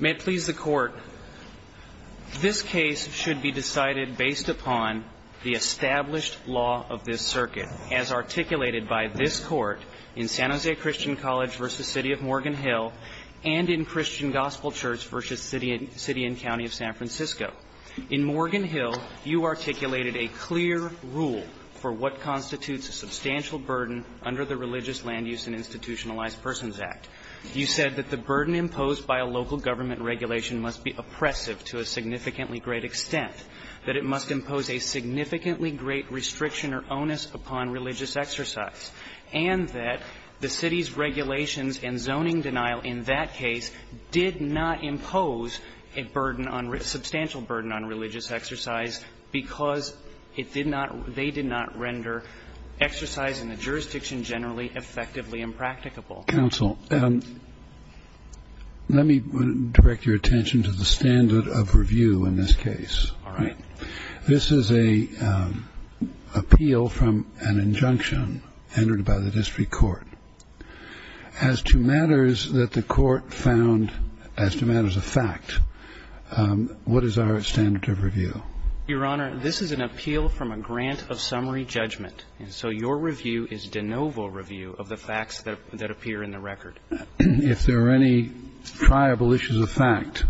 May it please the Court, this case should be decided based upon the established law of this circuit as articulated by this Court in San Jose Christian College v. City of Morgan Hill and in Christian Gospel Church v. City and County of San Francisco. In Morgan Hill, you articulated a clear rule for what constitutes a substantial burden under the Religious Land Use and Institutionalized Persons Act. You said that the burden imposed by a local government regulation must be oppressive to a significantly great extent, that it must impose a significantly great restriction or onus upon religious exercise, and that the city's regulations and zoning denial burden on religious exercise because it did not, they did not render exercise in the jurisdiction generally effectively impracticable. Counsel, let me direct your attention to the standard of review in this case. All right. This is an appeal from an injunction entered by the district court. As to matters that the Court found as to matters of fact, what is our standard of review? Your Honor, this is an appeal from a grant of summary judgment. And so your review is de novo review of the facts that appear in the record. If there are any triable issues of fact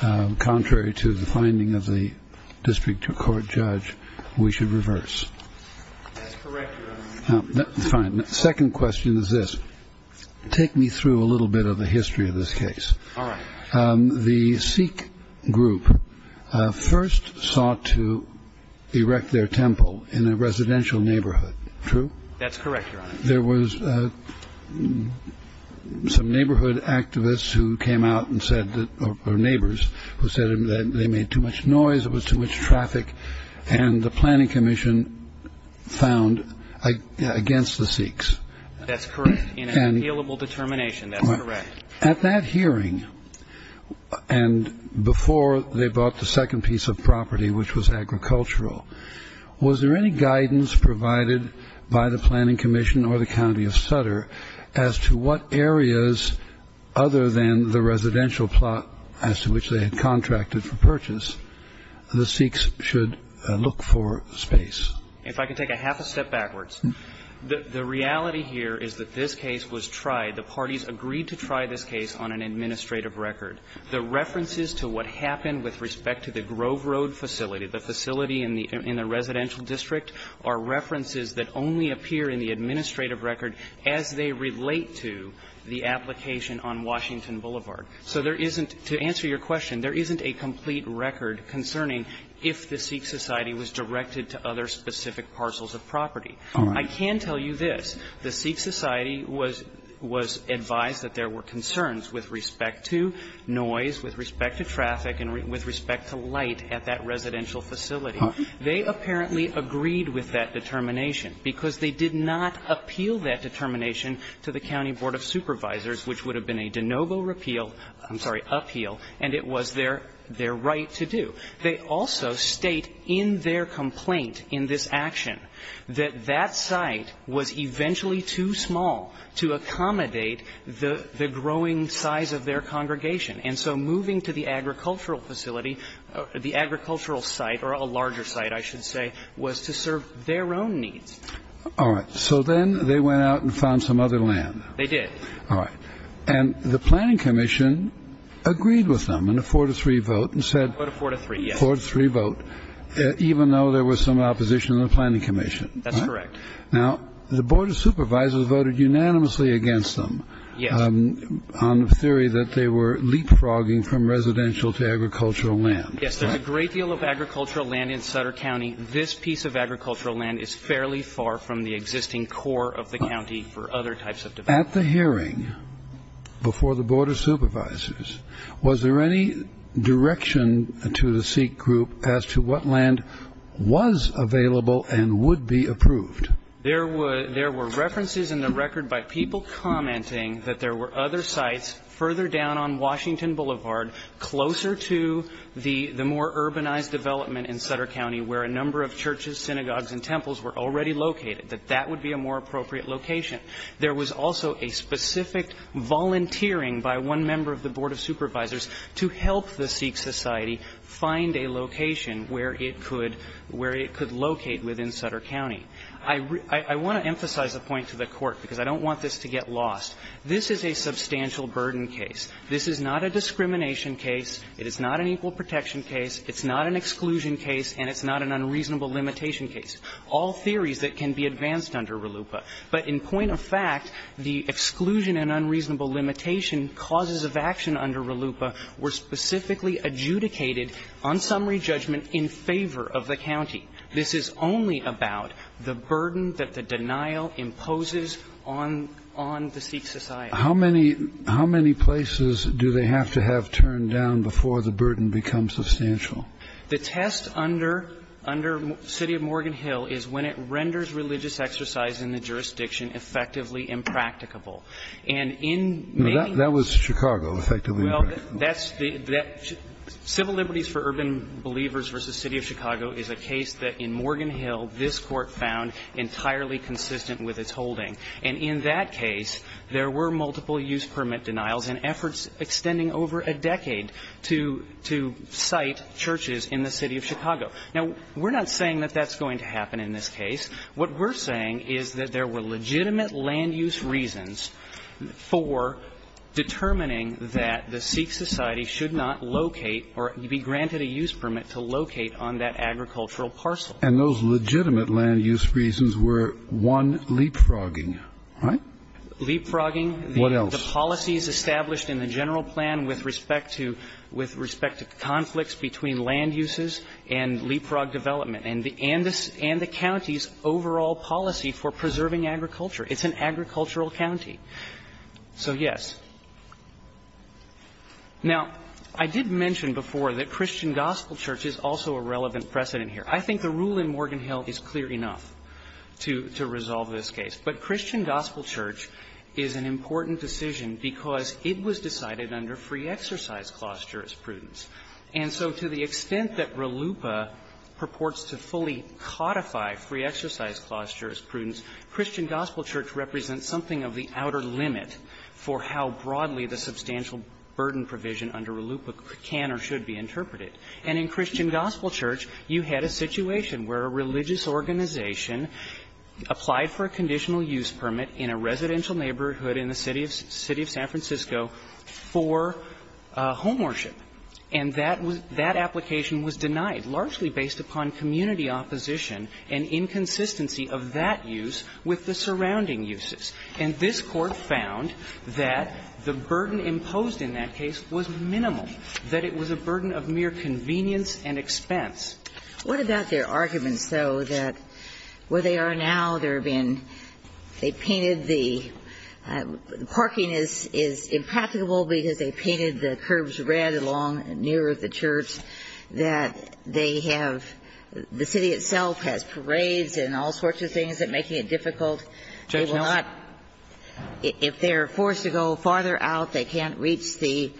contrary to the finding of the district court judge, we should reverse. That's correct, Your Honor. Fine. Second question is this. Take me through a little bit of the history of this case. All right. The Sikh group first sought to erect their temple in a residential neighborhood. True? That's correct, Your Honor. There was some neighborhood activists who came out and said that, or neighbors, who said that they made too much noise, it was too much traffic. And the planning commission found against the Sikhs. That's correct, in an appealable determination. That's correct. At that hearing, and before they bought the second piece of property, which was agricultural, was there any guidance provided by the planning commission or the county of Sutter as to what areas other than the residential plot as to which they had contracted for purchase? The Sikhs should look for space. If I could take a half a step backwards. The reality here is that this case was tried. The parties agreed to try this case on an administrative record. The references to what happened with respect to the Grove Road facility, the facility in the residential district, are references that only appear in the administrative record as they relate to the application on Washington Boulevard. So there isn't, to answer your question, there isn't a complete record concerning if the Sikh Society was directed to other specific parcels of property. I can tell you this. The Sikh Society was advised that there were concerns with respect to noise, with respect to traffic, and with respect to light at that residential facility. They apparently agreed with that determination, which would have been a de novo repeal, I'm sorry, appeal, and it was their right to do. They also state in their complaint, in this action, that that site was eventually too small to accommodate the growing size of their congregation. And so moving to the agricultural facility, the agricultural site, or a larger site, I should say, was to serve their own needs. All right. So then they went out and found some other land. They did. All right. And the Planning Commission agreed with them in a four to three vote and said. Four to three, yes. Four to three vote, even though there was some opposition in the Planning Commission. That's correct. Now, the Board of Supervisors voted unanimously against them. Yes. On the theory that they were leapfrogging from residential to agricultural land. Yes, there's a great deal of agricultural land in Sutter County. This piece of agricultural land is fairly far from the existing core of the county for other types of development. At the hearing before the Board of Supervisors, was there any direction to the SEEK group as to what land was available and would be approved? There were references in the record by people commenting that there were other sites further down on Washington Boulevard, closer to the more urbanized development in Sutter County, where a number of churches, synagogues, and temples were already located, that that would be a more appropriate location. There was also a specific volunteering by one member of the Board of Supervisors to help the SEEK society find a location where it could locate within Sutter County. I want to emphasize a point to the Court, because I don't want this to get lost. This is a substantial burden case. This is not a discrimination case. It is not an equal protection case. It's not an exclusion case. And it's not an unreasonable limitation case. All theories that can be advanced under RLUIPA. But in point of fact, the exclusion and unreasonable limitation causes of action under RLUIPA were specifically adjudicated on summary judgment in favor of the county. This is only about the burden that the denial imposes on the SEEK society. How many places do they have to have turned down before the burden becomes substantial? The test under City of Morgan Hill is when it renders religious exercise in the jurisdiction effectively impracticable. And in maybe the case of Urban Believers v. City of Chicago, that's the case that in Morgan Hill, this Court found entirely consistent with its holding. And in that case, there were multiple use permit denials and efforts extending over a decade to cite churches in the City of Chicago. Now, we're not saying that that's going to happen in this case. What we're saying is that there were legitimate land use reasons for determining that the SEEK society should not locate or be granted a use permit to locate on that agricultural parcel. And those legitimate land use reasons were, one, leapfrogging, right? Leapfrogging. What else? The policies established in the general plan with respect to conflicts between land uses and leapfrog development, and the county's overall policy for preserving agriculture. It's an agricultural county. So, yes. Now, I did mention before that Christian Gospel Church is also a relevant precedent here. I think the rule in Morgan Hill is clear enough to resolve this case. But Christian Gospel Church is an important decision because it was decided under free exercise clause jurisprudence. And so to the extent that RLUIPA purports to fully codify free exercise clause jurisprudence, Christian Gospel Church represents something of the outer limit for how broadly the substantial burden provision under RLUIPA can or should be interpreted. And in Christian Gospel Church, you had a situation where a religious organization applied for a conditional use permit in a residential neighborhood in the city of San Francisco for homeworship. And that was that application was denied, largely based upon community opposition and inconsistency of that use with the surrounding uses. And this Court found that the burden imposed in that case was minimal, that it was a burden of mere convenience and expense. What about their arguments, though, that where they are now, they're being – they painted the – parking is impracticable because they painted the curbs red along near the church, that they have – the city itself has parades and all sorts of things that make it difficult. They will not – if they're forced to go farther out, they can't reach the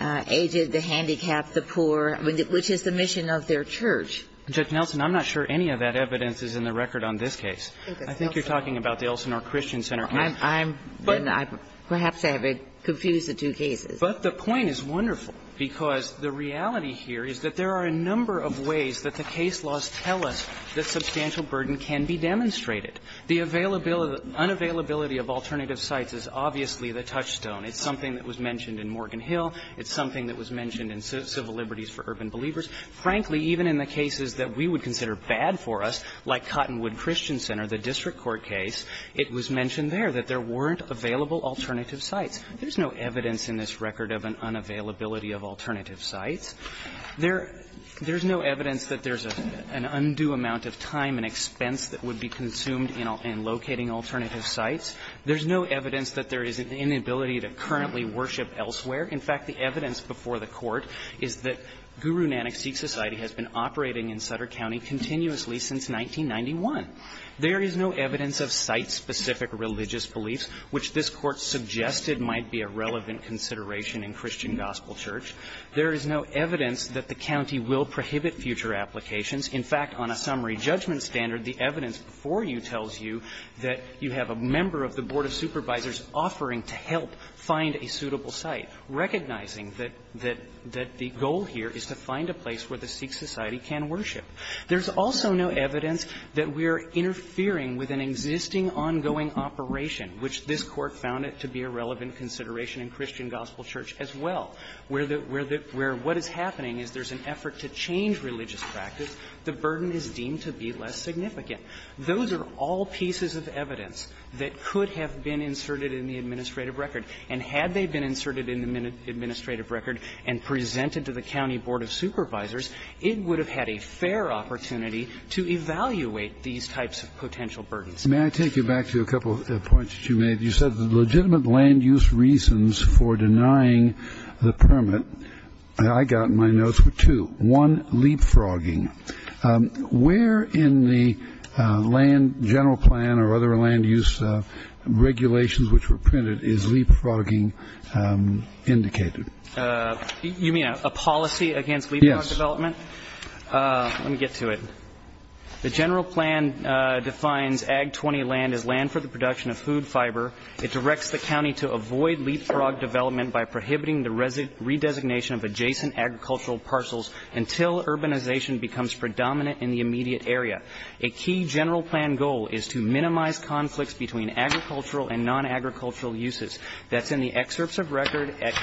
aged, the handicapped, the poor, which is the mission of their church. Nelson, I'm not sure any of that evidence is in the record on this case. I think you're talking about the Elsinore Christian Center case. I'm – I'm – perhaps I have confused the two cases. But the point is wonderful, because the reality here is that there are a number of ways that the case laws tell us that substantial burden can be demonstrated. The availability – unavailability of alternative sites is obviously the touchstone. It's something that was mentioned in Morgan Hill. It's something that was mentioned in Civil Liberties for Urban Believers. Frankly, even in the cases that we would consider bad for us, like Cottonwood Christian Center, the district court case, it was mentioned there that there weren't available alternative sites. There's no evidence in this record of an unavailability of alternative sites. There – there's no evidence that there's an undue amount of time and expense that would be consumed in locating alternative sites. There's no evidence that there is an inability to currently worship elsewhere. In fact, the evidence before the Court is that Guru Nanak Sikh Society has been operating in Sutter County continuously since 1991. There is no evidence of site-specific religious beliefs, which this Court suggested might be a relevant consideration in Christian gospel church. There is no evidence that the county will prohibit future applications. In fact, on a summary judgment standard, the evidence before you tells you that you have a member of the board of supervisors offering to help find a suitable site. Recognizing that the goal here is to find a place where the Sikh society can worship. There's also no evidence that we are interfering with an existing ongoing operation, which this Court found it to be a relevant consideration in Christian gospel church as well, where what is happening is there's an effort to change religious practice. The burden is deemed to be less significant. Those are all pieces of evidence that could have been inserted in the administrative record, and had they been inserted in the administrative record and presented to the county board of supervisors, it would have had a fair opportunity to evaluate these types of potential burdens. May I take you back to a couple of points that you made? You said the legitimate land use reasons for denying the permit, I got my notes for two. One, leapfrogging. Where in the land general plan or other land use regulations which were printed is leapfrogging indicated? You mean a policy against leapfrog development? Yes. Let me get to it. The general plan defines AG-20 land as land for the production of food fiber. It directs the county to avoid leapfrog development by prohibiting the redesignation of adjacent agricultural parcels until urbanization becomes predominant in the immediate area. A key general plan goal is to minimize conflicts between agricultural and non-agricultural uses. That's in the excerpts of record at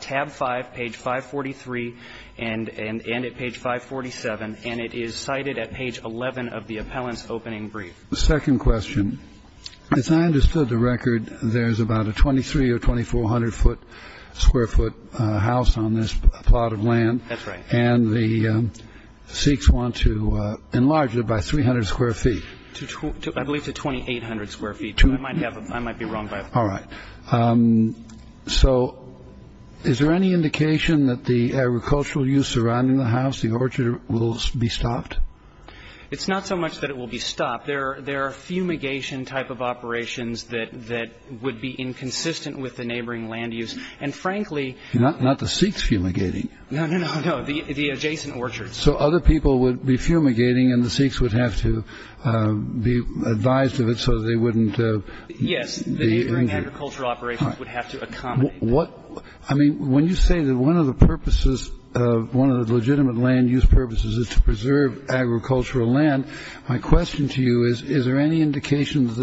tab 5, page 543, and at page 547, and it is cited at page 11 of the appellant's opening brief. The second question, as I understood the record, there's about a 23- or 2400-foot square foot house on this plot of land. That's right. And the Sikhs want to enlarge it by 300 square feet. I believe to 2800 square feet. I might be wrong by that. All right. So is there any indication that the agricultural use surrounding the house, the orchard, will be stopped? It's not so much that it will be stopped. There are fumigation type of operations that would be inconsistent with the neighboring land use. And frankly... Not the Sikhs fumigating. No, no, no, no, the adjacent orchards. So other people would be fumigating and the Sikhs would have to be advised of it so they wouldn't... Yes. The neighboring agricultural operations would have to accommodate... I mean, when you say that one of the purposes, one of the legitimate land use purposes is to preserve agricultural land, my question to you is, is there any indication that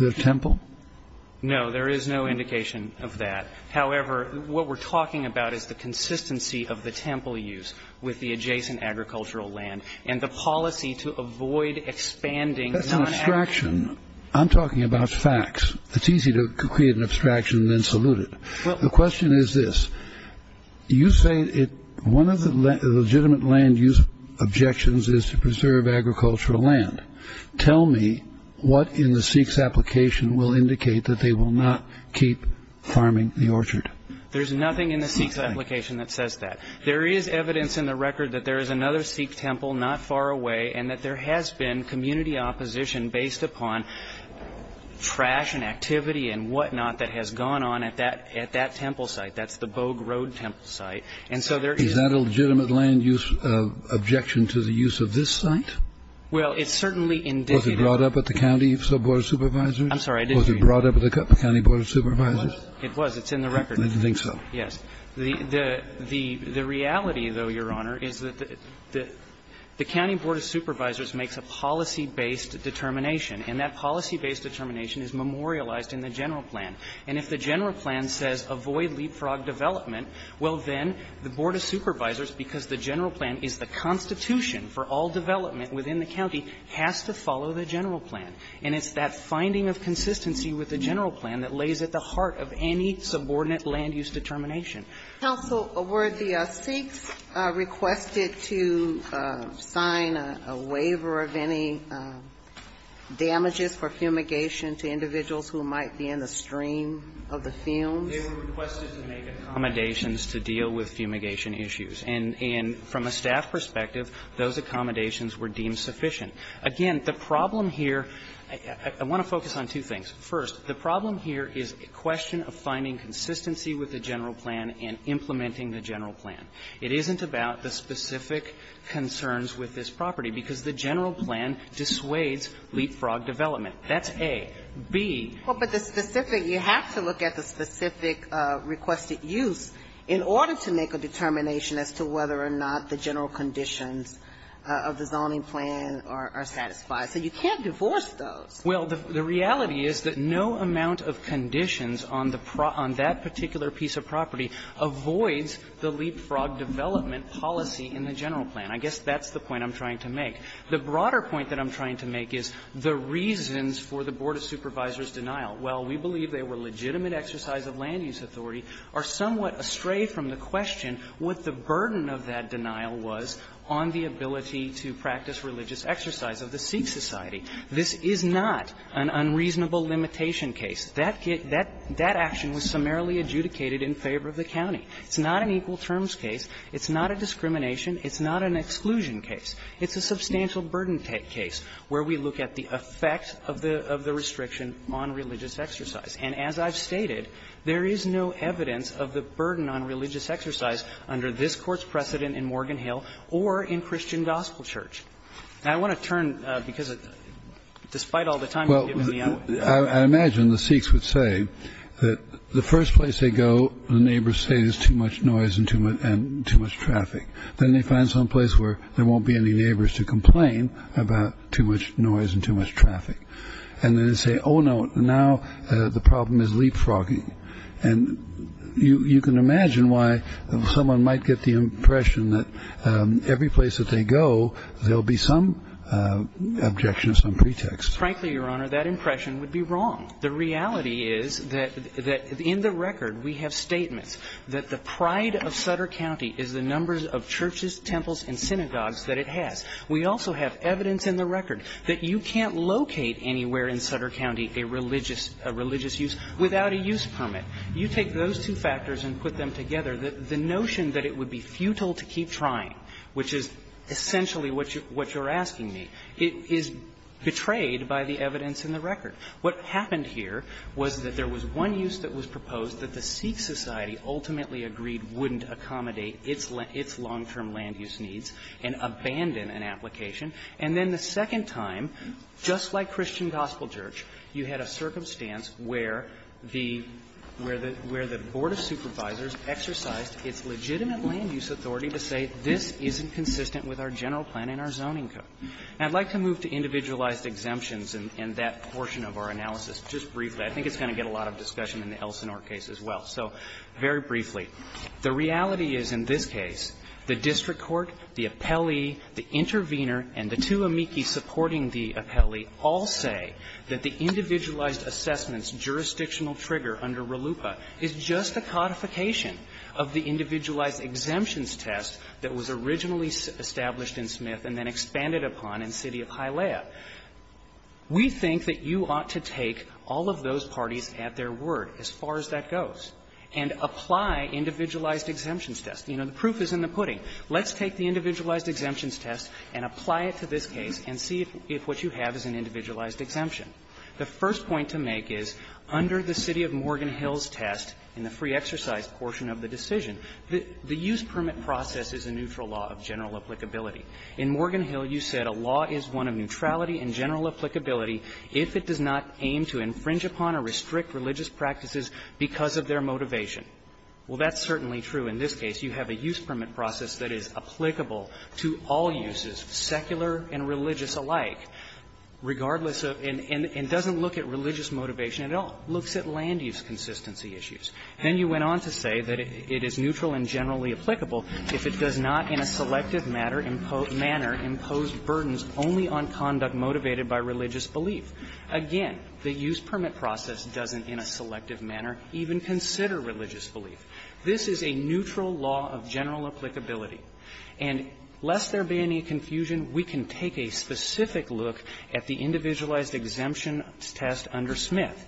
the temple? No. There is no indication of that. However, what we're talking about is the consistency of the temple use with the adjacent agricultural land and the policy to avoid expanding... That's an abstraction. I'm talking about facts. It's easy to create an abstraction and then salute it. The question is this. You say one of the legitimate land use objections is to preserve agricultural land. Tell me what in the Sikhs' application will indicate that they will not keep farming the orchard. There's nothing in the Sikhs' application that says that. There is evidence in the record that there is another Sikh temple not far away and that there has been community opposition based upon trash and activity and whatnot that has gone on at that temple site. That's the Bog Road temple site. And so there is... Is that a legitimate land use objection to the use of this site? Well, it's certainly indicative... Was it brought up at the county sub-board of supervisors? I'm sorry, I didn't hear you. Was it brought up at the county board of supervisors? It was. It was. It's in the record. I didn't think so. Yes. The reality, though, Your Honor, is that the county board of supervisors makes a policy-based determination, and that policy-based determination is memorialized in the general plan, and if the general plan says avoid leapfrog development, well, then the board of supervisors, because the general plan is the constitution for all development within the county, has to follow the general plan. And it's that finding of consistency with the general plan that lays at the heart of any subordinate land use determination. Counsel, were the Sikhs requested to sign a waiver of any damages for fumigation to individuals who might be in the stream of the fumes? They were requested to make accommodations to deal with fumigation issues. And from a staff perspective, those accommodations were deemed sufficient. Again, the problem here, I want to focus on two things. First, the problem here is a question of finding consistency with the general plan and implementing the general plan. It isn't about the specific concerns with this property, because the general plan dissuades leapfrog development. That's A. B. But the specific, you have to look at the specific requested use in order to make a determination as to whether or not the general conditions of the zoning plan are satisfied. So you can't divorce those. Well, the reality is that no amount of conditions on that particular piece of property avoids the leapfrog development policy in the general plan. I guess that's the point I'm trying to make. The broader point that I'm trying to make is the reasons for the Board of Supervisors' denial. Well, we believe they were legitimate exercise of land use authority, are somewhat astray from the question what the burden of that denial was on the ability to practice religious exercise of the Sikh society. This is not an unreasonable limitation case. That action was summarily adjudicated in favor of the county. It's not an equal terms case. It's not a discrimination. It's not an exclusion case. It's a substantial burden case where we look at the effect of the restriction on religious exercise. And as I've stated, there is no evidence of the burden on religious exercise under this Court's precedent in Morgan Hill or in Christian Gospel Church. Now, I want to turn, because despite all the time you've given me, I'm going to turn to the other one. I imagine the Sikhs would say that the first place they go, the neighbors say there's too much noise and too much traffic. Then they find some place where there won't be any neighbors to complain about too much noise and too much traffic. And then they say, oh, no, now the problem is leapfrogging. And you can imagine why someone might get the impression that every place that they go, there'll be some objection to some pretext. Frankly, Your Honor, that impression would be wrong. The reality is that in the record, we have statements that the pride of Sutter County is the pride of churches, temples and synagogues that it has. We also have evidence in the record that you can't locate anywhere in Sutter County a religious use without a use permit. You take those two factors and put them together, the notion that it would be futile to keep trying, which is essentially what you're asking me, is betrayed by the evidence in the record. What happened here was that there was one use that was proposed that the Sikh Society ultimately agreed wouldn't accommodate its long-term land use needs and abandon an application. And then the second time, just like Christian Gospel Church, you had a circumstance where the Board of Supervisors exercised its legitimate land use authority to say this isn't consistent with our general plan and our zoning code. And I'd like to move to individualized exemptions and that portion of our analysis just briefly. I think it's going to get a lot of discussion in the Elsinore case as well. So very briefly. The reality is in this case, the district court, the appellee, the intervener and the two amici supporting the appellee all say that the individualized assessments jurisdictional trigger under RLUIPA is just a codification of the individualized exemptions test that was originally established in Smith and then expanded upon in City of Hialeah. We think that you ought to take all of those parties at their word as far as that goes and apply individualized exemptions tests. You know, the proof is in the pudding. Let's take the individualized exemptions test and apply it to this case and see if what you have is an individualized exemption. The first point to make is, under the City of Morgan Hill's test in the free exercise portion of the decision, the use permit process is a neutral law of general applicability. In Morgan Hill, you said a law is one of neutrality and general applicability if it does not aim to infringe upon or restrict religious practices because of their motivation. Well, that's certainly true in this case. You have a use permit process that is applicable to all uses, secular and religious alike, regardless of and doesn't look at religious motivation. It looks at land use consistency issues. Then you went on to say that it is neutral and generally applicable if it does not in a selective manner impose burdens only on conduct motivated by religious belief. Again, the use permit process doesn't in a selective manner even consider religious belief. This is a neutral law of general applicability. And lest there be any confusion, we can take a specific look at the individualized exemptions test under Smith.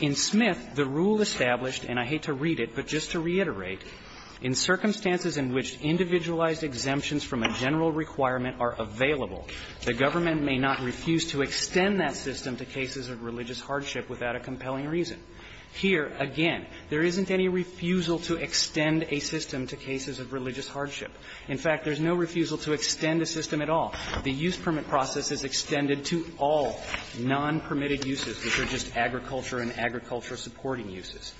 In Smith, the rule established, and I hate to read it, but just to reiterate, in circumstances in which individualized exemptions from a general requirement are available, the government may not refuse to extend that system to cases of religious hardship without a compelling reason. Here, again, there isn't any refusal to extend a system to cases of religious hardship. In fact, there's no refusal to extend a system at all. The use permit process is extended to all non-permitted uses, which are just agriculture and agriculture-supporting uses.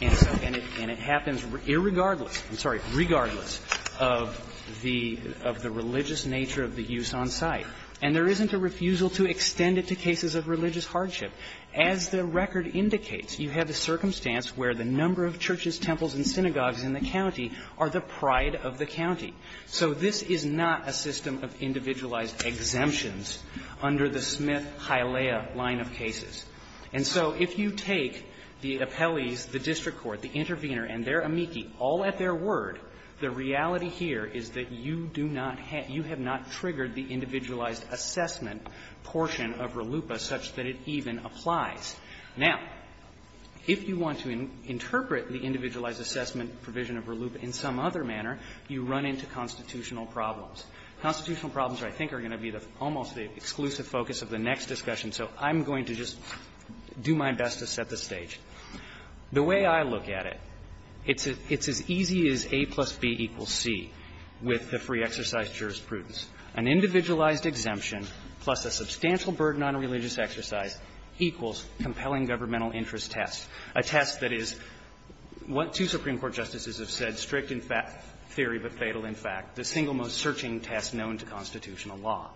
And it happens irregardless, I'm sorry, regardless of the religious nature of the use on site. And there isn't a refusal to extend it to cases of religious hardship. As the record indicates, you have a circumstance where the number of churches, temples, and synagogues in the county are the pride of the county. So this is not a system of individualized exemptions under the Smith-Hialeah line of cases. And so if you take the appellees, the district court, the intervener, and their amici all at their word, the reality here is that you do not have you have not triggered the individualized assessment portion of RLUIPA such that it even applies. Now, if you want to interpret the individualized assessment provision of RLUIPA in some other manner, you run into constitutional problems. Constitutional problems, I think, are going to be almost the exclusive focus of the next discussion. So I'm going to just do my best to set the stage. The way I look at it, it's as easy as A plus B equals C with the free exercise jurisprudence. An individualized exemption plus a substantial burden on religious exercise equals compelling governmental interest test, a test that is what two Supreme Court justices have said, strict in theory but fatal in fact, the single most searching test known to constitutional law.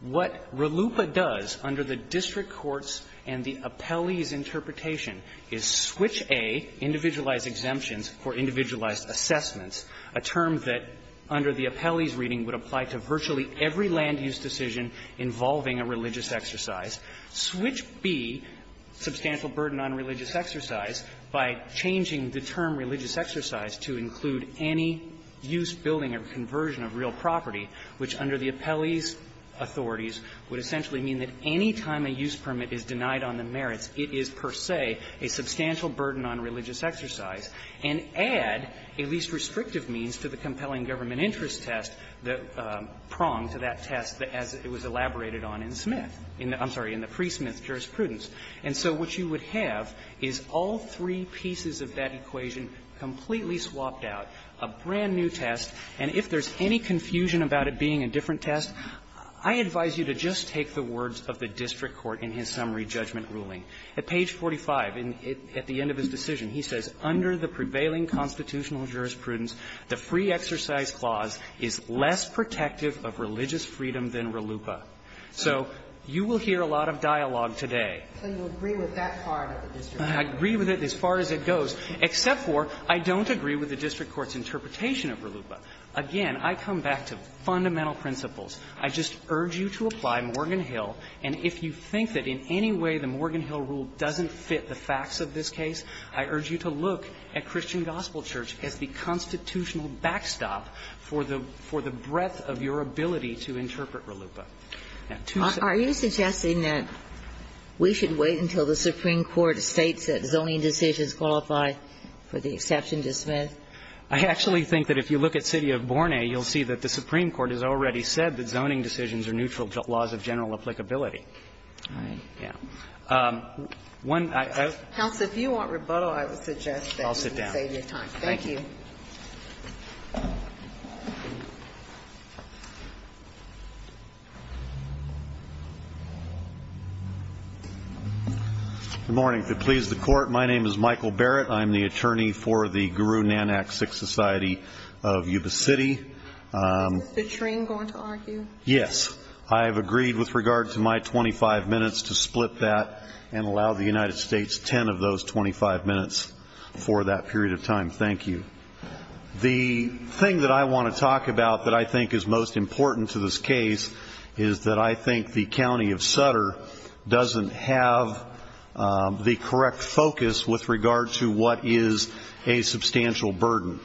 What RLUIPA does under the district court's and the appellee's interpretation is switch A, individualized exemptions for individualized assessments, a term that under the appellee's reading would apply to virtually every land use decision involving a religious exercise, switch B, substantial burden on religious exercise, by changing the term religious exercise to include any use, building, or conversion of real property, which under the appellee's authorities would essentially mean that any time a use permit is denied on the merits, it is per se a substantial burden on religious exercise, and add a least restrictive means to the compelling government interest test, the prong to that test as it was elaborated on in Smith – I'm sorry, in the pre-Smith jurisprudence. And so what you would have is all three pieces of that equation completely swapped out, a brand-new test, and if there's any confusion about it being a different test, I advise you to just take the words of the district court in his summary judgment ruling. At page 45, at the end of his decision, he says, Under the prevailing constitutional jurisprudence, the free exercise clause is less protective of religious freedom than RLUIPA. So you will hear a lot of dialogue today. So you agree with that part of the district court ruling? I agree with it as far as it goes, except for I don't agree with the district court's interpretation of RLUIPA. Again, I come back to fundamental principles. I just urge you to apply Morgan Hill, and if you think that in any way the Morgan Hill rule doesn't fit the facts of this case, I urge you to look at Christian Gospel Church as the constitutional backstop for the – for the breadth of your ability to interpret RLUIPA. Are you suggesting that we should wait until the Supreme Court states that zoning decisions qualify for the exception to Smith? I actually think that if you look at City of Borne, you'll see that the Supreme Court has already said that zoning decisions are neutral to laws of general applicability. All right. Yeah. One, I have to – Counsel, if you want rebuttal, I would suggest that you save your time. I'll sit down. Thank you. Good morning. If it pleases the Court, my name is Michael Barrett. I'm the attorney for the Guru Nanak Sikh Society of Yuba City. Is Mr. Tring going to argue? Yes. I have agreed with regard to my 25 minutes to split that and allow the United States 10 of those 25 minutes for that period of time. Thank you. The thing that I want to talk about that I think is most important to this case is that I think the County of Sutter doesn't have the correct focus with regard to what is a substantial burden.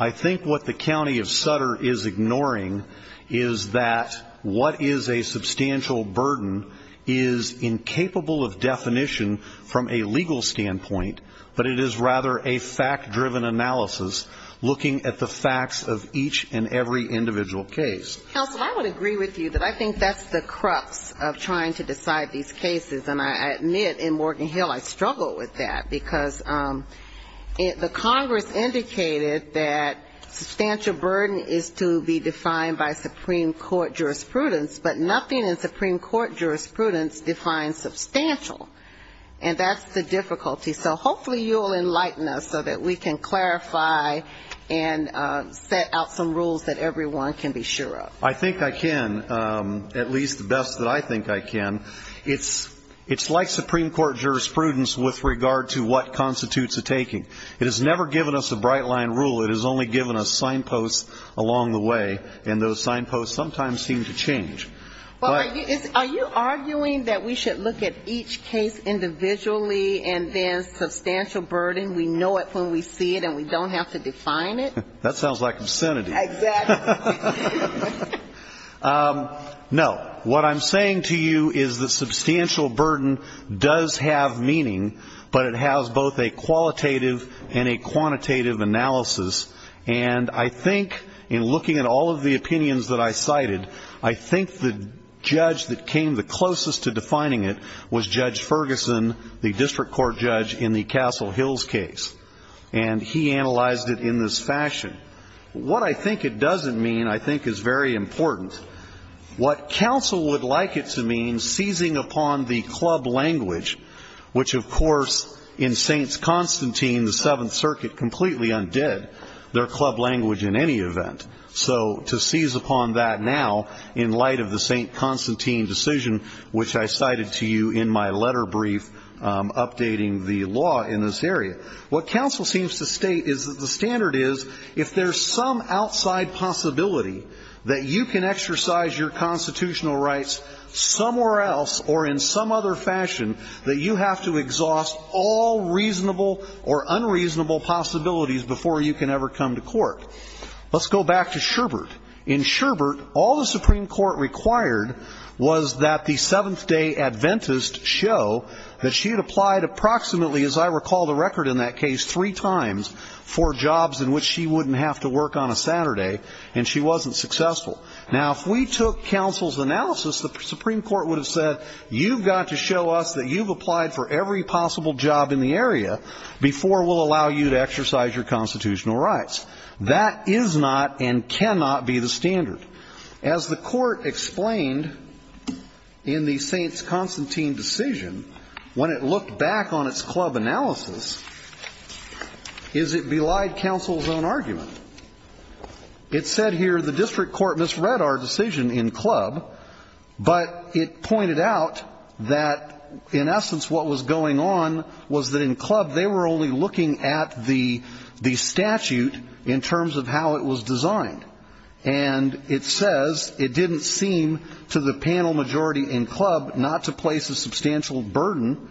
I think what the County of Sutter is ignoring is that what is a substantial burden is incapable of definition from a legal standpoint, but it is rather a fact-driven analysis looking at the facts of each and every individual case. Counsel, I would agree with you that I think that's the crux of trying to decide these cases, and I admit in Morgan Hill I struggled with that because the Congress indicated that substantial burden is to be defined by Supreme Court jurisprudence, but nothing in Supreme Court jurisprudence defines substantial, and that's the difficulty. So hopefully you'll enlighten us so that we can clarify and set out some rules that everyone can be sure of. I think I can, at least the best that I think I can. It's like Supreme Court jurisprudence with regard to what constitutes a taking. It has never given us a bright-line rule. It has only given us signposts along the way, and those signposts sometimes seem to change. Are you arguing that we should look at each case individually, and then substantial burden, we know it when we see it and we don't have to define it? That sounds like obscenity. Exactly. No. What I'm saying to you is that substantial burden does have meaning, but it has both a qualitative and a quantitative analysis, and I think in looking at all of the opinions that I cited, I think the judge that came the closest to defining it was Judge Ferguson, the district court judge in the Castle Hills case, and he analyzed it in this fashion. What I think it doesn't mean, I think, is very important. What counsel would like it to mean, seizing upon the club language, which of course in Saints Constantine, the Seventh Circuit, completely undid their club language in any event. So to seize upon that now, in light of the Saint Constantine decision, which I cited to you in my letter brief, updating the law in this area, what counsel seems to state is that the standard is, if there's some outside possibility that you can exercise your constitutional rights somewhere else or in some other fashion, that you have to exhaust all reasonable or Let's go back to Sherbert. In Sherbert, all the Supreme Court required was that the Seventh Day Adventist show that she had applied approximately, as I recall the record in that case, three times for jobs in which she wouldn't have to work on a Saturday, and she wasn't successful. Now if we took counsel's analysis, the Supreme Court would have said, you've got to show us that you've applied for every possible job in the area before we'll allow you to That is not and cannot be the standard. As the court explained in the Saints Constantine decision, when it looked back on its club analysis, is it belied counsel's own argument. It said here the district court misread our decision in club, but it pointed out that in essence what was going on was that in club they were only looking at the statute in terms of how it was designed. And it says it didn't seem to the panel majority in club not to place a substantial burden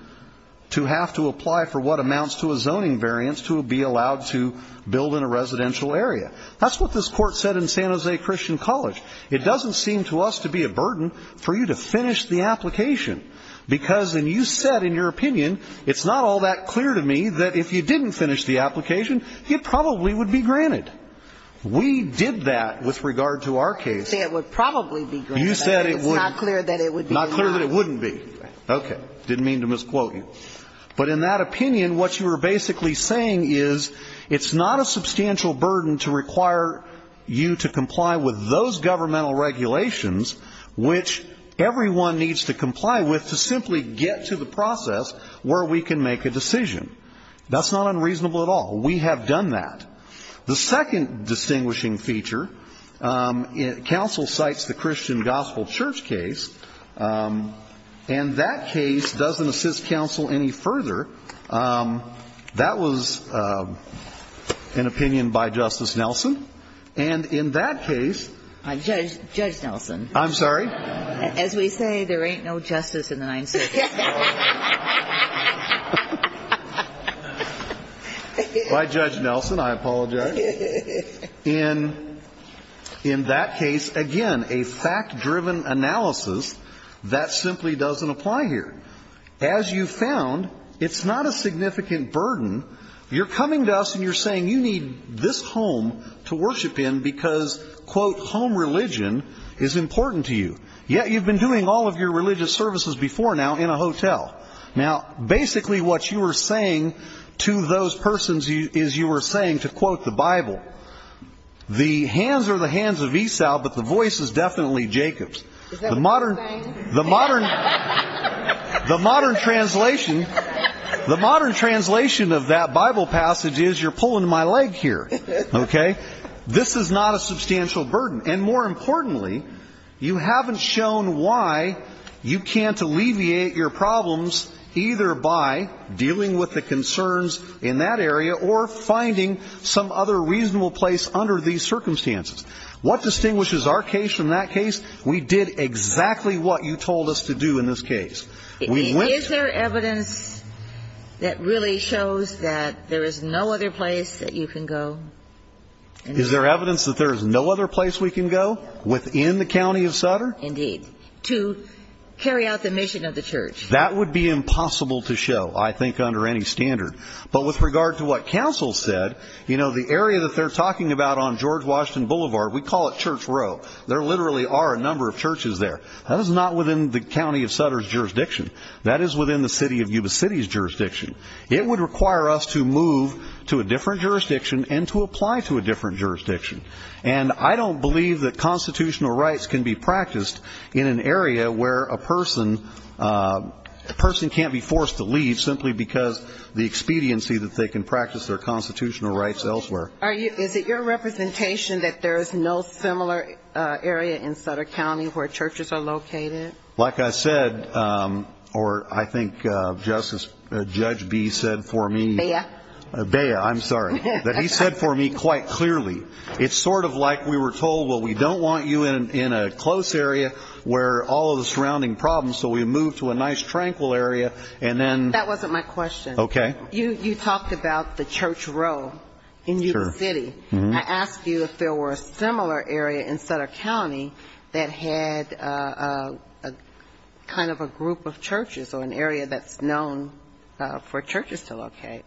to have to apply for what amounts to a zoning variance to be allowed to build in a residential area. That's what this court said in San Jose Christian College. It doesn't seem to us to be a burden for you to finish the application. Because and you said in your opinion, it's not all that clear to me that if you didn't finish the application, it probably would be granted. We did that with regard to our case. You said it would probably be granted. You said it would. It's not clear that it would be allowed. Not clear that it wouldn't be. Okay. Didn't mean to misquote you. But in that opinion, what you were basically saying is it's not a substantial burden to require you to comply with those governmental regulations which everyone needs to comply with to simply get to the process where we can make a decision. That's not unreasonable at all. We have done that. The second distinguishing feature, counsel cites the Christian Gospel Church case, and that case doesn't assist counsel any further. That was an opinion by Justice Nelson. And in that case – Judge Nelson. I'm sorry? As we say, there ain't no justice in the Ninth Circuit. By Judge Nelson, I apologize. In that case, again, a fact-driven analysis, that simply doesn't apply here. As you found, it's not a significant burden. You're coming to us and you're saying you need this home to worship in because, quote, home religion is important to you, yet you've been doing all of your religious services before now in a hotel. Now, basically what you were saying to those persons is you were saying, to quote the Bible, the hands are the hands of Esau, but the voice is definitely Jacob's. The modern translation of that Bible passage is you're pulling my leg here, okay? This is not a substantial burden. And more importantly, you haven't shown why you can't alleviate your problems either by dealing with the concerns in that area or finding some other reasonable place under these circumstances. What distinguishes our case from that case? We did exactly what you told us to do in this case. We went to the court. Is there evidence that really shows that there is no other place that you can go? Is there evidence that there is no other place we can go within the county of Sutter? Indeed, to carry out the mission of the church. That would be impossible to show, I think, under any standard. But with regard to what counsel said, you know, the area that they're talking about on George Washington Boulevard, we call it Church Row. There literally are a number of churches there. That is not within the county of Sutter's jurisdiction. That is within the city of Yuba City's jurisdiction. It would require us to move to a different jurisdiction and to apply to a different jurisdiction. And I don't believe that constitutional rights can be practiced in an area where a person can't be forced to leave simply because the expediency that they can practice their constitutional rights elsewhere. Is it your representation that there is no similar area in Sutter County where churches are located? Like I said, or I think Judge B. said for me. Bea? Bea, I'm sorry. That he said for me quite clearly. It's sort of like we were told, well, we don't want you in a close area where all of the surrounding problems. So we moved to a nice, tranquil area and then. That wasn't my question. Okay. You talked about the Church Row in Yuba City. I asked you if there were a similar area in Sutter County that had kind of a group of churches or an area that's known for churches to locate.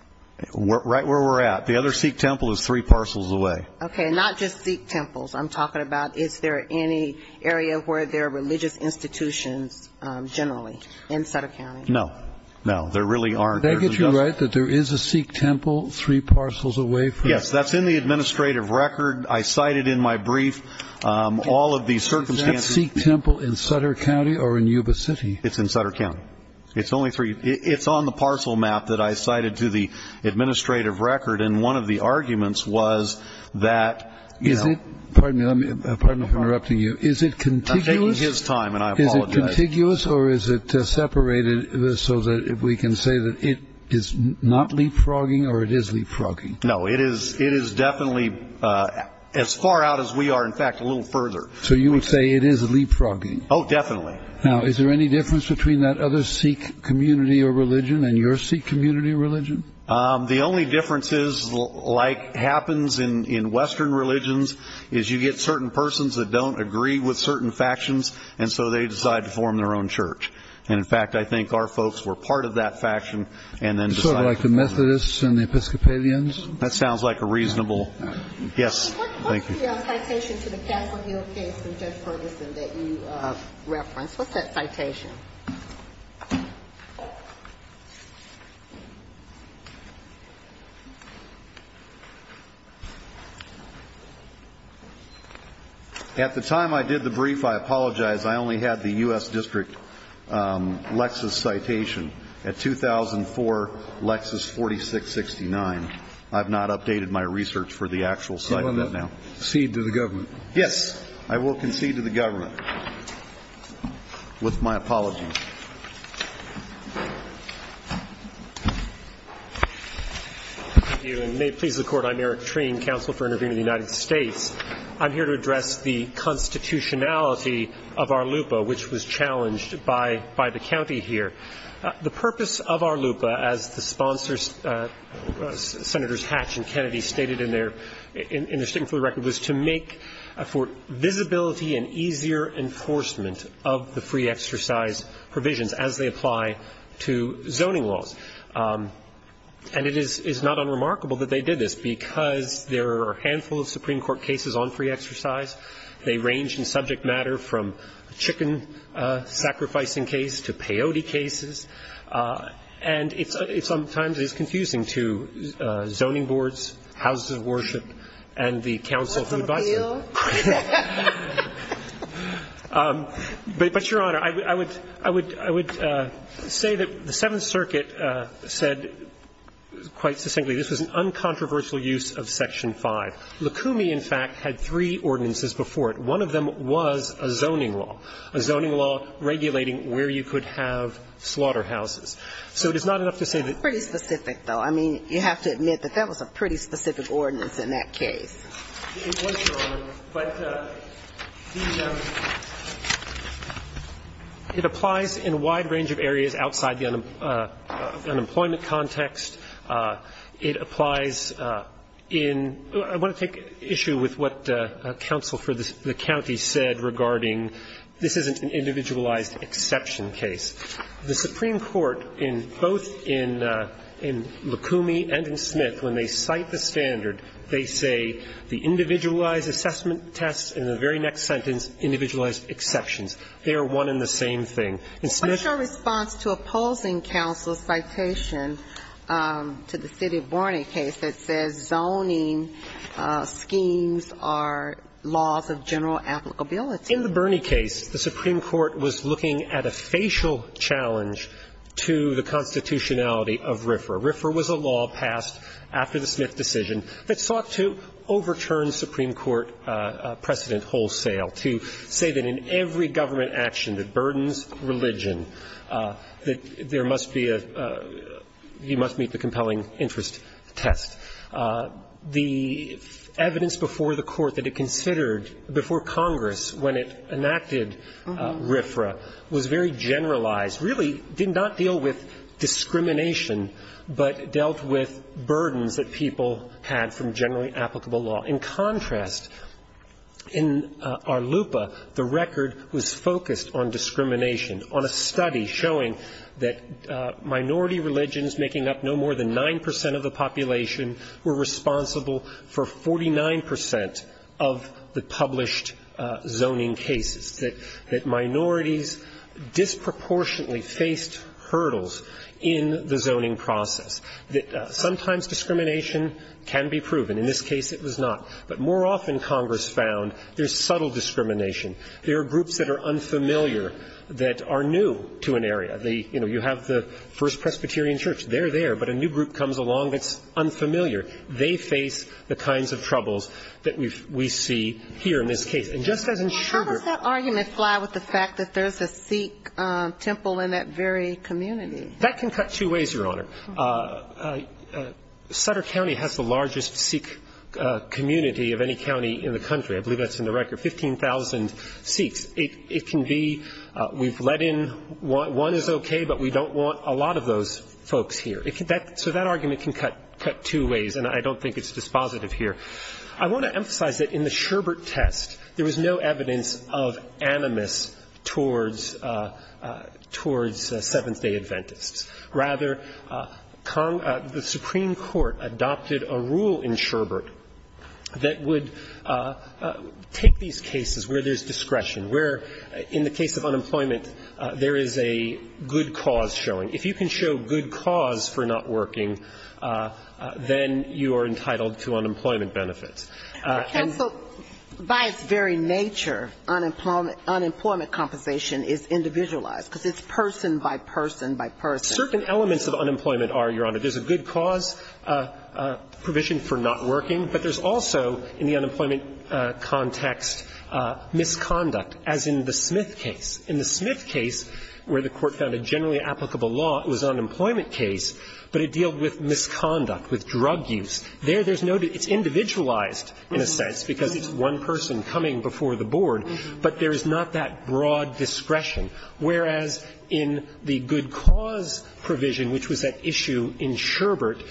Right where we're at. The other Sikh temple is three parcels away. Okay. Not just Sikh temples. I'm talking about is there any area where there are religious institutions generally in Sutter County? No. No. There really aren't. Did I get you right that there is a Sikh temple three parcels away from. Yes, that's in the administrative record. I cited in my brief all of these circumstances. Is that Sikh temple in Sutter County or in Yuba City? It's in Sutter County. It's only three. It's on the parcel map that I cited to the administrative record. And one of the arguments was that. Is it. Pardon me. Pardon me for interrupting you. Is it contiguous. I'm taking his time and I apologize. Is it contiguous or is it separated so that we can say that it is not leapfrogging or it is leapfrogging? No, it is. It is definitely as far out as we are, in fact, a little further. So you would say it is leapfrogging. Oh, definitely. Now, is there any difference between that other Sikh community or religion and your Sikh community or religion? The only difference is like happens in Western religions is you get certain persons that don't agree with certain factions. And so they decide to form their own church. And in fact, I think our folks were part of that faction. It's sort of like the Methodists and the Episcopalians. That sounds like a reasonable. Yes. Thank you. What's the citation to the Castle Hill case with Judge Ferguson that you referenced? What's that citation? At the time I did the brief, I apologize. I only had the U.S. District Lexis citation at 2004 Lexis 4669. I've not updated my research for the actual site of that now. Concede to the government. Yes. I will concede to the government with my apologies. Thank you. And may it please the Court, I'm Eric Treen, Counsel for Intervening in the United States. I'm here to address the constitutionality of our LUPA, which was challenged by the county here. The purpose of our LUPA, as the sponsors, Senators Hatch and Kennedy, stated in their statement for the record, was to make for visibility and easier enforcement of the free exercise provisions as they apply to zoning laws. And it is not unremarkable that they did this because there are a handful of Supreme Court cases on free exercise. They range in subject matter from a chicken-sacrificing case to peyote cases. And it sometimes is confusing to zoning boards, houses of worship and the counsel who advise them. What's the appeal? But, Your Honor, I would say that the Seventh Circuit said quite succinctly this was an uncontroversial use of Section 5. Likumi, in fact, had three ordinances before it. One of them was a zoning law, a zoning law regulating where you could have slaughterhouses. So it is not enough to say that you have to admit that that was a pretty specific ordinance in that case. It applies in a wide range of areas outside the unemployment context. It applies in – I want to take issue with what counsel for the county said regarding this isn't an individualized exception case. The Supreme Court, both in Likumi and in Smith, when they cite the standard, they say the individualized assessment tests and the very next sentence, individualized exceptions, they are one and the same thing. In Smith – What's your response to opposing counsel's citation to the City of Borney case that says zoning schemes are laws of general applicability? In the Borney case, the Supreme Court was looking at a facial challenge to the constitutionality of RFRA. RFRA was a law passed after the Smith decision that sought to overturn Supreme Court precedent wholesale to say that in every government action that burdens religion, that there must be a – you must meet the compelling interest test. The evidence before the Court that it considered before Congress when it enacted RFRA was very generalized, really did not deal with discrimination, but dealt with burdens that people had from generally applicable law. In contrast, in Arlupa, the record was focused on discrimination, on a study showing that minority religions making up no more than 9 percent of the population were responsible for 49 percent of the published zoning cases. That minorities disproportionately faced hurdles in the zoning process. That sometimes discrimination can be proven. In this case, it was not. But more often, Congress found there's subtle discrimination. There are groups that are unfamiliar, that are new to an area. You know, you have the First Presbyterian Church. They're there, but a new group comes along that's unfamiliar. They face the kinds of troubles that we see here in this case. And just as in Sherbert – How does that argument fly with the fact that there's a Sikh temple in that very community? That can cut two ways, Your Honor. Sutter County has the largest Sikh community of any county in the country. I believe that's in the record, 15,000 Sikhs. It can be – we've let in – one is okay, but we don't want a lot of those folks here. So that argument can cut two ways, and I don't think it's dispositive here. I want to emphasize that in the Sherbert test, there was no evidence of animus towards – towards Seventh-day Adventists. Rather, the Supreme Court adopted a rule in Sherbert that would take these cases where there's discretion, where in the case of unemployment, there is a good cause showing. If you can show good cause for not working, then you are entitled to unemployment. And so, by its very nature, unemployment compensation is individualized because it's person by person by person. Certain elements of unemployment are, Your Honor. There's a good cause provision for not working, but there's also in the unemployment context misconduct, as in the Smith case. In the Smith case, where the Court found a generally applicable law, it was an unemployment case, but it dealed with misconduct, with drug use. There, there's no – it's individualized, in a sense, because it's one person coming before the board, but there is not that broad discretion. Whereas in the good cause provision, which was at issue in Sherbert,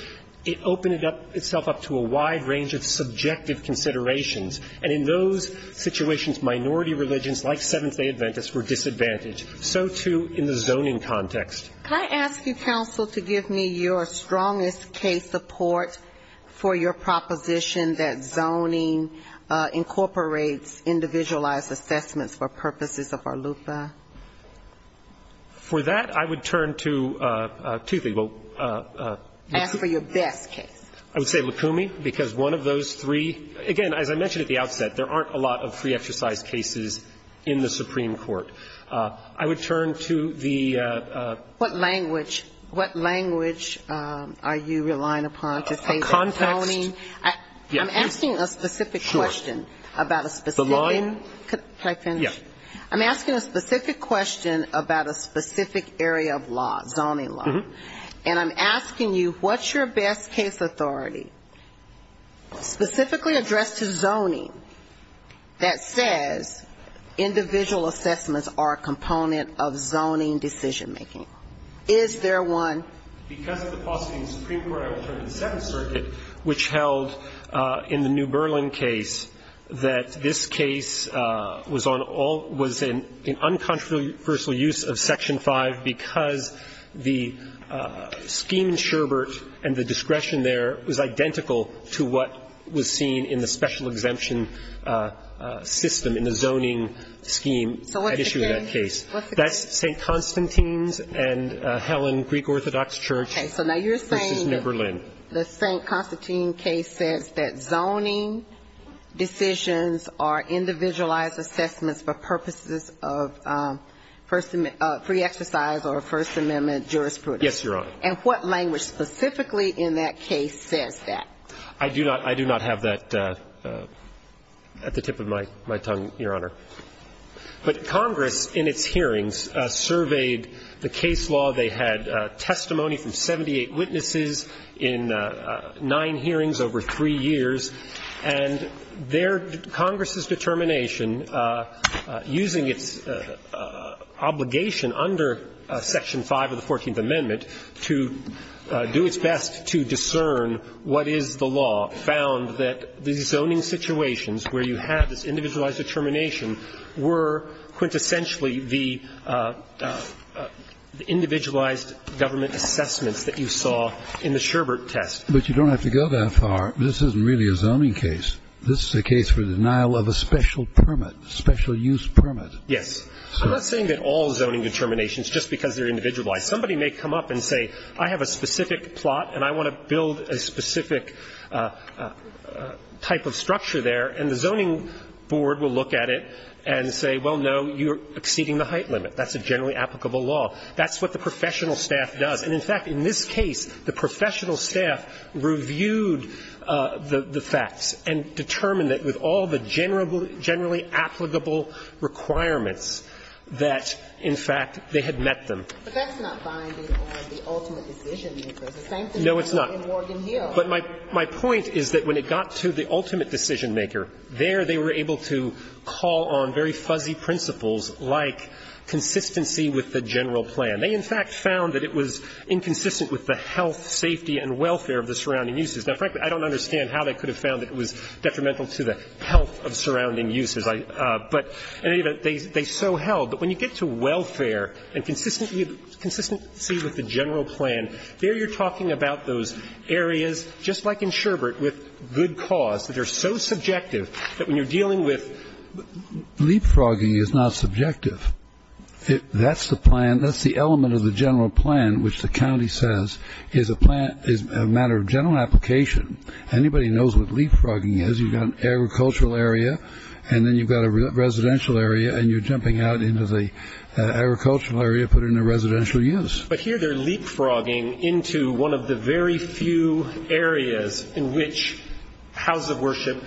it opened itself up to a wide range of subjective considerations. And in those situations, minority religions like Seventh-day Adventists were disadvantaged. So, too, in the zoning context. Can I ask you, counsel, to give me your strongest case support for your proposition that zoning incorporates individualized assessments for purposes of ARLUFA? For that, I would turn to two people. Ask for your best case. I would say Lukumi, because one of those three – again, as I mentioned at the outset, there aren't a lot of free exercise cases in the Supreme Court. I would turn to the – What language – what language are you relying upon to say that zoning – Context – I'm asking a specific question about a specific – Sure. The line – I'm asking a specific question about a specific area of law, zoning law. And I'm asking you, what's your best case authority specifically addressed to zoning that says individual assessments are a component of zoning decision-making? Is there one? Because of the possibility in the Supreme Court, I would turn to the Seventh Circuit, which held in the New Berlin case that this case was on all – was in uncontroversial use of Section 5 because the scheme in Sherbert and the discretion there was identical to what was seen in the special exemption system in the zoning scheme at issue in So what's the case? That's St. Constantine's and Helen Greek Orthodox Church v. New Berlin. Okay. So now you're saying the St. Constantine case says that zoning decisions are individualized assessments for purposes of free exercise or First Amendment jurisprudence. Yes, Your Honor. And what language specifically in that case says that? I do not – I do not have that at the tip of my tongue, Your Honor. But Congress in its hearings surveyed the case law. They had testimony from 78 witnesses in nine hearings over three years. And their – Congress's determination, using its obligation under Section 5 of the law, found that the zoning situations where you have this individualized determination were quintessentially the individualized government assessments that you saw in the Sherbert test. But you don't have to go that far. This isn't really a zoning case. This is a case for the denial of a special permit, special use permit. Yes. I'm not saying that all zoning determinations just because they're individualized. Somebody may come up and say, I have a specific plot and I want to build a specific type of structure there, and the zoning board will look at it and say, well, no, you're exceeding the height limit. That's a generally applicable law. That's what the professional staff does. And, in fact, in this case, the professional staff reviewed the facts and determined that with all the generally applicable requirements that, in fact, they had met them. But that's not binding on the ultimate decision maker. It's the same thing in Morgan Hill. No, it's not. But my point is that when it got to the ultimate decision maker, there they were able to call on very fuzzy principles like consistency with the general plan. They, in fact, found that it was inconsistent with the health, safety, and welfare of the surrounding uses. Now, frankly, I don't understand how they could have found that it was detrimental to the health of surrounding uses. But, in any event, they so held. But when you get to welfare and consistency with the general plan, there you're talking about those areas, just like in Sherbert, with good cause, that they're so subjective that when you're dealing with leapfrogging is not subjective. That's the plan. That's the element of the general plan which the county says is a matter of general application. Anybody knows what leapfrogging is. You've got an agricultural area, and then you've got a residential area, and you're jumping out into the agricultural area, put it into residential use. But here they're leapfrogging into one of the very few areas in which houses of worship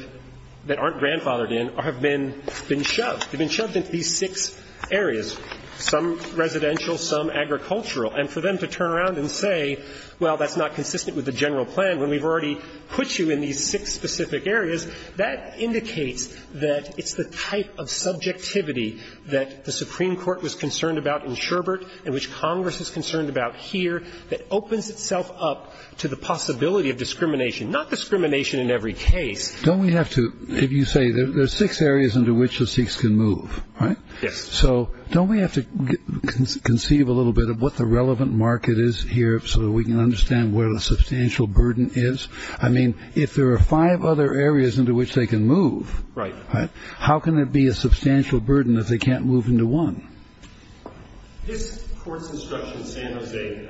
that aren't grandfathered in have been shoved. They've been shoved into these six areas, some residential, some agricultural. And for them to turn around and say, well, that's not consistent with the general plan when we've already put you in these six specific areas, that indicates that it's the type of subjectivity that the Supreme Court was concerned about in Sherbert and which Congress is concerned about here that opens itself up to the possibility of discrimination, not discrimination in every case. Don't we have to, if you say there's six areas into which the Sikhs can move, right? Yes. So don't we have to conceive a little bit of what the relevant market is here so that we can understand where the substantial burden is? I mean, if there are five other areas into which they can move, how can it be a substantial burden if they can't move into one? This Court's instruction in San Jose,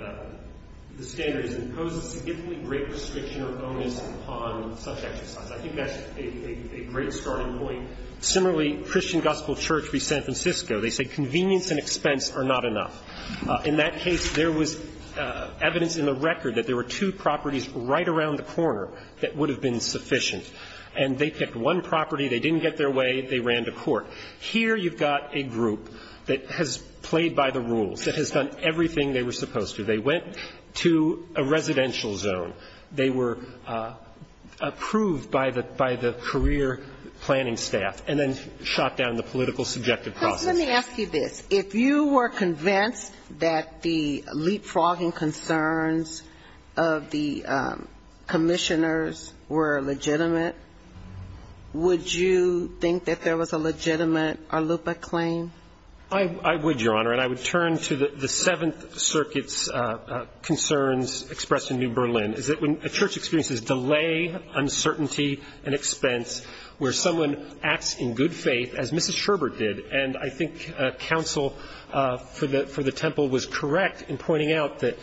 the standards, imposes significantly great restriction or onus upon such exercise. I think that's a great starting point. Similarly, Christian Gospel Church v. San Francisco, they say convenience and expense are not enough. In that case, there was evidence in the record that there were two properties right around the corner that would have been sufficient. And they picked one property. They didn't get their way. They ran to court. Here you've got a group that has played by the rules, that has done everything they were supposed to. They went to a residential zone. They were approved by the career planning staff and then shot down the political subjective process. Let me ask you this. If you were convinced that the leapfrogging concerns of the commissioners were legitimate, would you think that there was a legitimate Arlupa claim? I would, Your Honor. And I would turn to the Seventh Circuit's concerns expressed in New Berlin, is that when a church experiences delay, uncertainty, and expense, where someone acts in good And I think counsel for the temple was correct in pointing out that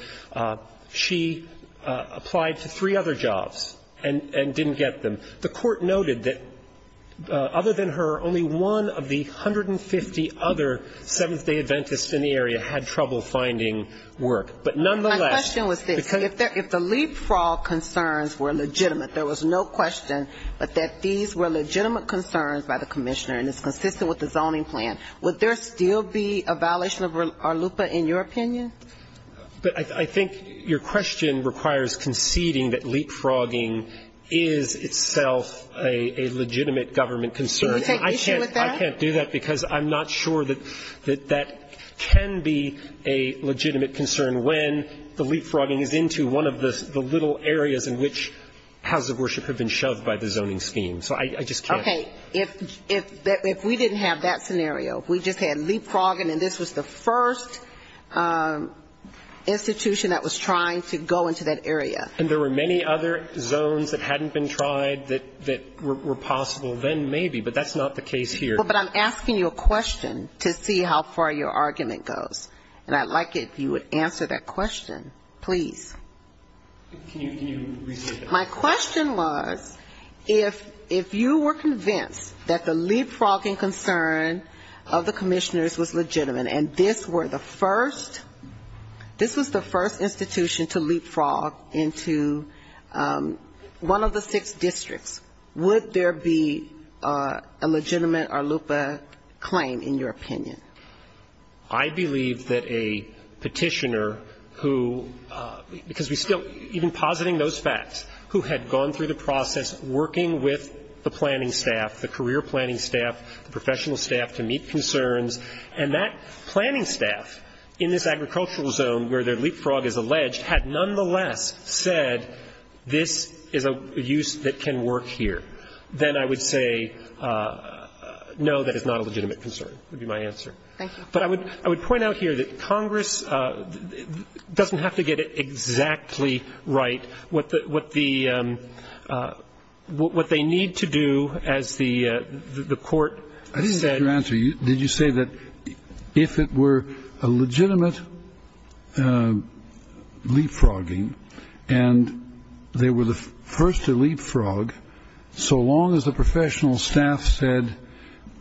she applied to three other jobs and didn't get them. The court noted that, other than her, only one of the 150 other Seventh-day Adventists in the area had trouble finding work. But nonetheless, because My question was this. If the leapfrog concerns were legitimate, there was no question but that these were legitimate concerns by the commissioner and it's consistent with the zoning plan, would there still be a violation of Arlupa in your opinion? But I think your question requires conceding that leapfrogging is itself a legitimate government concern. Do you take issue with that? I can't do that because I'm not sure that that can be a legitimate concern when the leapfrogging is into one of the little areas in which houses of worship have been I just can't. Okay. If we didn't have that scenario, if we just had leapfrogging and this was the first institution that was trying to go into that area. And there were many other zones that hadn't been tried that were possible then maybe, but that's not the case here. But I'm asking you a question to see how far your argument goes. And I'd like it if you would answer that question, please. Can you repeat that? My question was, if you were convinced that the leapfrogging concern of the commissioners was legitimate and this were the first, this was the first institution to leapfrog into one of the six districts, would there be a legitimate Arlupa claim in your opinion? I believe that a petitioner who, because we still, even positing those facts, who had gone through the process working with the planning staff, the career planning staff, the professional staff to meet concerns, and that planning staff in this agricultural zone where their leapfrog is alleged had nonetheless said this is a use that can work here, then I would say no, that is not a legitimate concern would be my answer. Thank you. But I would point out here that Congress doesn't have to get it exactly right. What the, what the, what they need to do as the court said. I didn't get your answer. Did you say that if it were a legitimate leapfrogging and they were the first to leapfrog, so long as the professional staff said,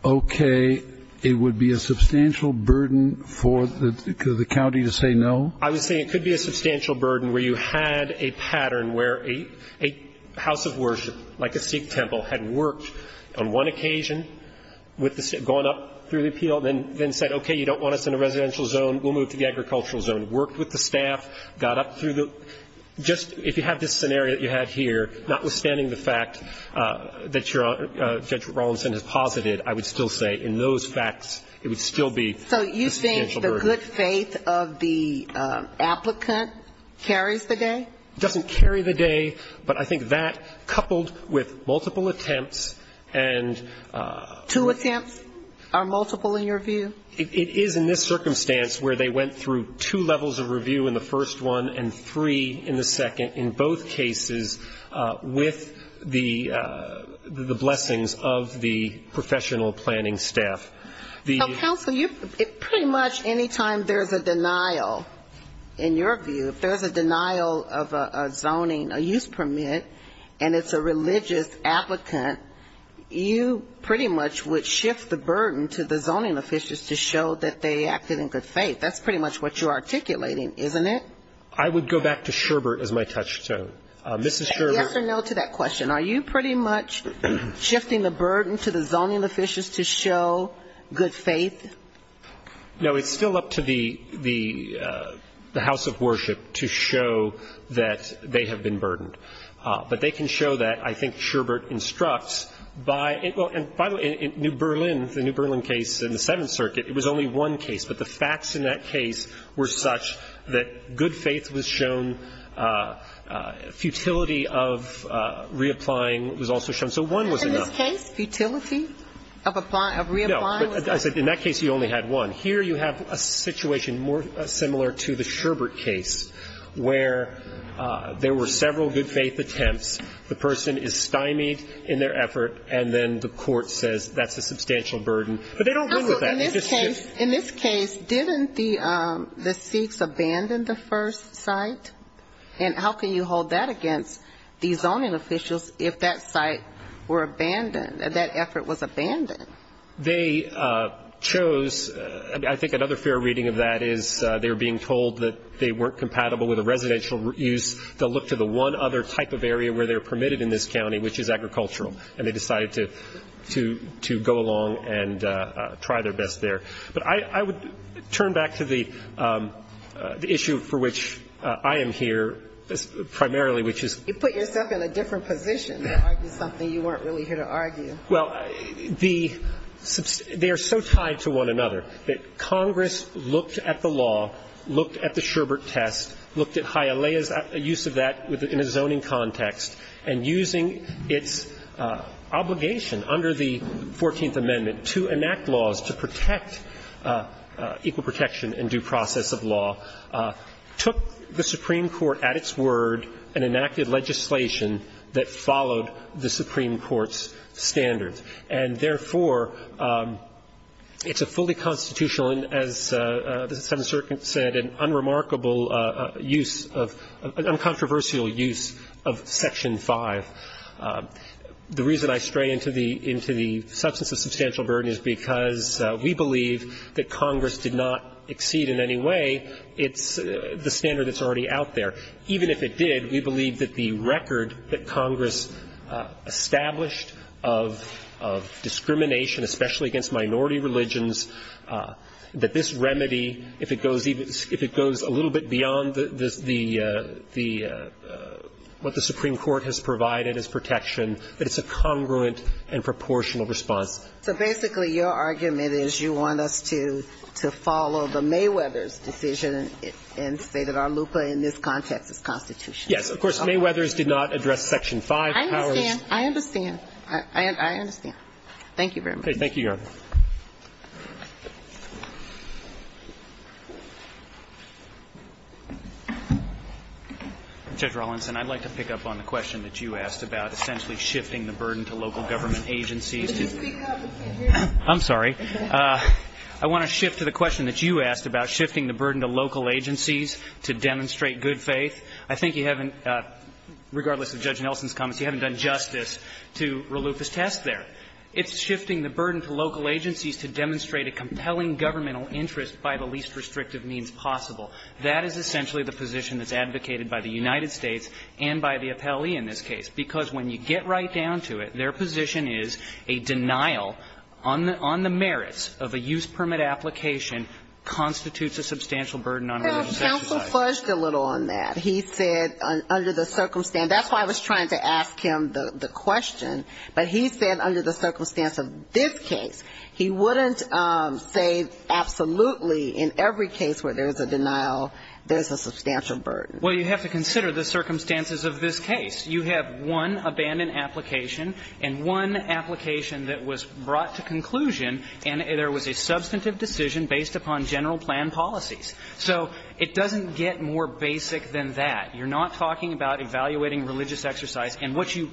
okay, it would be a substantial burden for the county to say no? I would say it could be a substantial burden where you had a pattern where a house of worship, like a Sikh temple, had worked on one occasion with the, going up through the appeal, then said, okay, you don't want us in a residential zone, we'll move to the agricultural zone, worked with the staff, got up through the, just if you have this scenario that you have here, notwithstanding the fact that Judge Rawlinson has posited, I would still say in those facts it would still be a substantial burden for the county to say no. And I think that's where the faith of the applicant carries the day. It doesn't carry the day. But I think that, coupled with multiple attempts, and to attempt, are multiple in your view? It is in this circumstance where they went through two levels of review in the first one, and three in the second, in both cases, with the blessings of the professional planning staff. Counsel, pretty much any time there's a denial, in your view, if there's a denial of a zoning, a use permit, and it's a religious applicant, you pretty much would shift the burden to the zoning officials to show that they acted in good faith. That's pretty much what you're articulating, isn't it? I would go back to Sherbert as my touchstone. Mrs. Sherbert Say yes or no to that question. Are you pretty much shifting the burden to the zoning officials to show good faith? No, it's still up to the House of Worship to show that they have been burdened. But they can show that. I think Sherbert instructs, by the way, in New Berlin, the New Berlin case in the Seventh Circuit, it was only one case. But the facts in that case were such that good faith was shown, futility of reapplying was also shown. So one was enough. In this case, futility of reapplying was enough. No. In that case, you only had one. Here you have a situation more similar to the Sherbert case, where there were several good faith attempts. The person is stymied in their effort, and then the court says that's a substantial burden. But they don't win with that. In this case, didn't the Sikhs abandon the first site? And how can you hold that against the zoning officials if that site were abandoned, if that effort was abandoned? They chose, I think another fair reading of that is they were being told that they weren't permitted in this county, which is agricultural. And they decided to go along and try their best there. But I would turn back to the issue for which I am here primarily, which is ---- You put yourself in a different position. You argued something you weren't really here to argue. Well, they are so tied to one another that Congress looked at the law, looked at the zoning context, and using its obligation under the Fourteenth Amendment to enact laws to protect equal protection and due process of law, took the Supreme Court at its word and enacted legislation that followed the Supreme Court's standards. And therefore, it's a fully constitutional and, as the Seventh Circuit said, an unremarkable use of ---- an uncontroversial use of Section 5. The reason I stray into the substance of substantial burden is because we believe that Congress did not exceed in any way the standard that's already out there. Even if it did, we believe that the record that Congress established of discrimination, especially against minority religions, that this remedy, if it goes even ---- if it goes a little bit beyond the ---- what the Supreme Court has provided as protection, that it's a congruent and proportional response. So basically your argument is you want us to follow the Mayweather's decision and say that our LUCA in this context is constitutional. Yes. Of course, Mayweather's did not address Section 5. I understand. I understand. I understand. Thank you very much. Okay. Thank you, Your Honor. Judge Rawlinson, I'd like to pick up on the question that you asked about essentially shifting the burden to local government agencies to ---- Could you speak up? I can't hear you. I'm sorry. I want to shift to the question that you asked about shifting the burden to local agencies to demonstrate good faith. I think you haven't, regardless of Judge Nelson's comments, you haven't done justice to Raluca's test there. It's shifting the burden to local agencies to demonstrate a compelling governmental interest by the least restrictive means possible. That is essentially the position that's advocated by the United States and by the appellee in this case, because when you get right down to it, their position is a denial on the merits of a use permit application constitutes a substantial burden on religious exercise. Well, counsel fudged a little on that. He said under the circumstance ---- that's why I was trying to ask him the question. But he said under the circumstance of this case, he wouldn't say absolutely in every case where there's a denial there's a substantial burden. Well, you have to consider the circumstances of this case. You have one abandoned application and one application that was brought to conclusion and there was a substantive decision based upon general plan policies. So it doesn't get more basic than that. You're not talking about evaluating religious exercise. And what you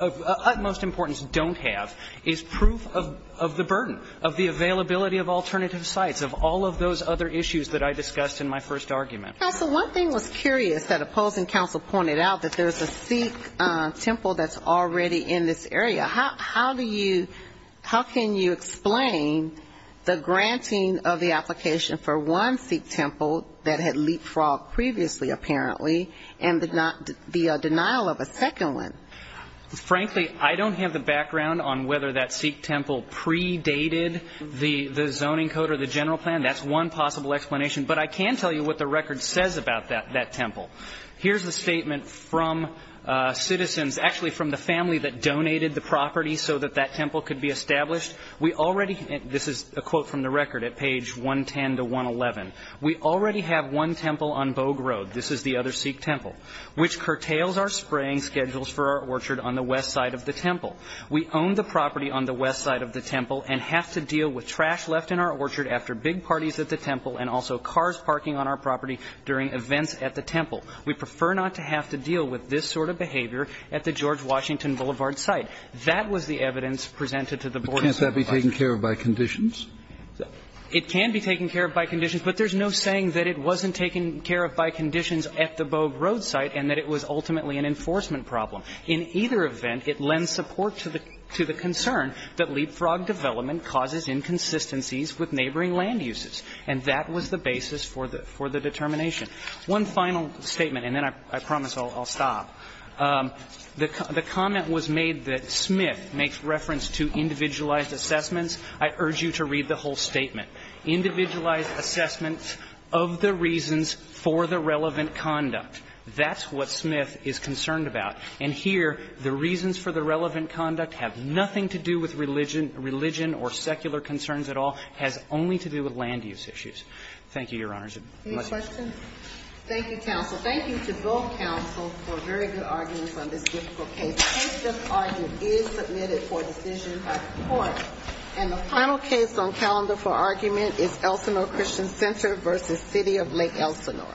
of utmost importance don't have is proof of the burden, of the availability of alternative sites, of all of those other issues that I discussed in my first argument. So one thing was curious that opposing counsel pointed out, that there's a Sikh temple that's already in this area. How do you ---- how can you explain the granting of the application for one Sikh temple that had leapfrogged previously, apparently, and the denial of a second one? Frankly, I don't have the background on whether that Sikh temple predated the zoning code or the general plan. That's one possible explanation. But I can tell you what the record says about that temple. Here's a statement from citizens, actually from the family that donated the property so that that temple could be established. We already ---- this is a quote from the record at page 110 to 111. We already have one temple on Bogue Road, this is the other Sikh temple, which curtails our spraying schedules for our orchard on the west side of the temple. We own the property on the west side of the temple and have to deal with trash left in our orchard after big parties at the temple and also cars parking on our property during events at the temple. We prefer not to have to deal with this sort of behavior at the George Washington Boulevard site. That was the evidence presented to the Board of Supervisors. Kennedy. But can't that be taken care of by conditions? It can be taken care of by conditions, but there's no saying that it wasn't taken care of by conditions at the Bogue Road site and that it was ultimately an enforcement problem. In either event, it lends support to the concern that leapfrogged development causes inconsistencies with neighboring land uses, and that was the basis for the determination. One final statement, and then I promise I'll stop. The comment was made that Smith makes reference to individualized assessments. I urge you to read the whole statement. Individualized assessments of the reasons for the relevant conduct. That's what Smith is concerned about. And here, the reasons for the relevant conduct have nothing to do with religion or secular concerns at all, has only to do with land use issues. Thank you, Your Honors. Any questions? Thank you, counsel. Thank you to both counsel for very good arguments on this difficult case. The case just argued is submitted for decision by the court. And the final case on calendar for argument is Elsinore Christian Center v. City of Lake Elsinore. Thank you.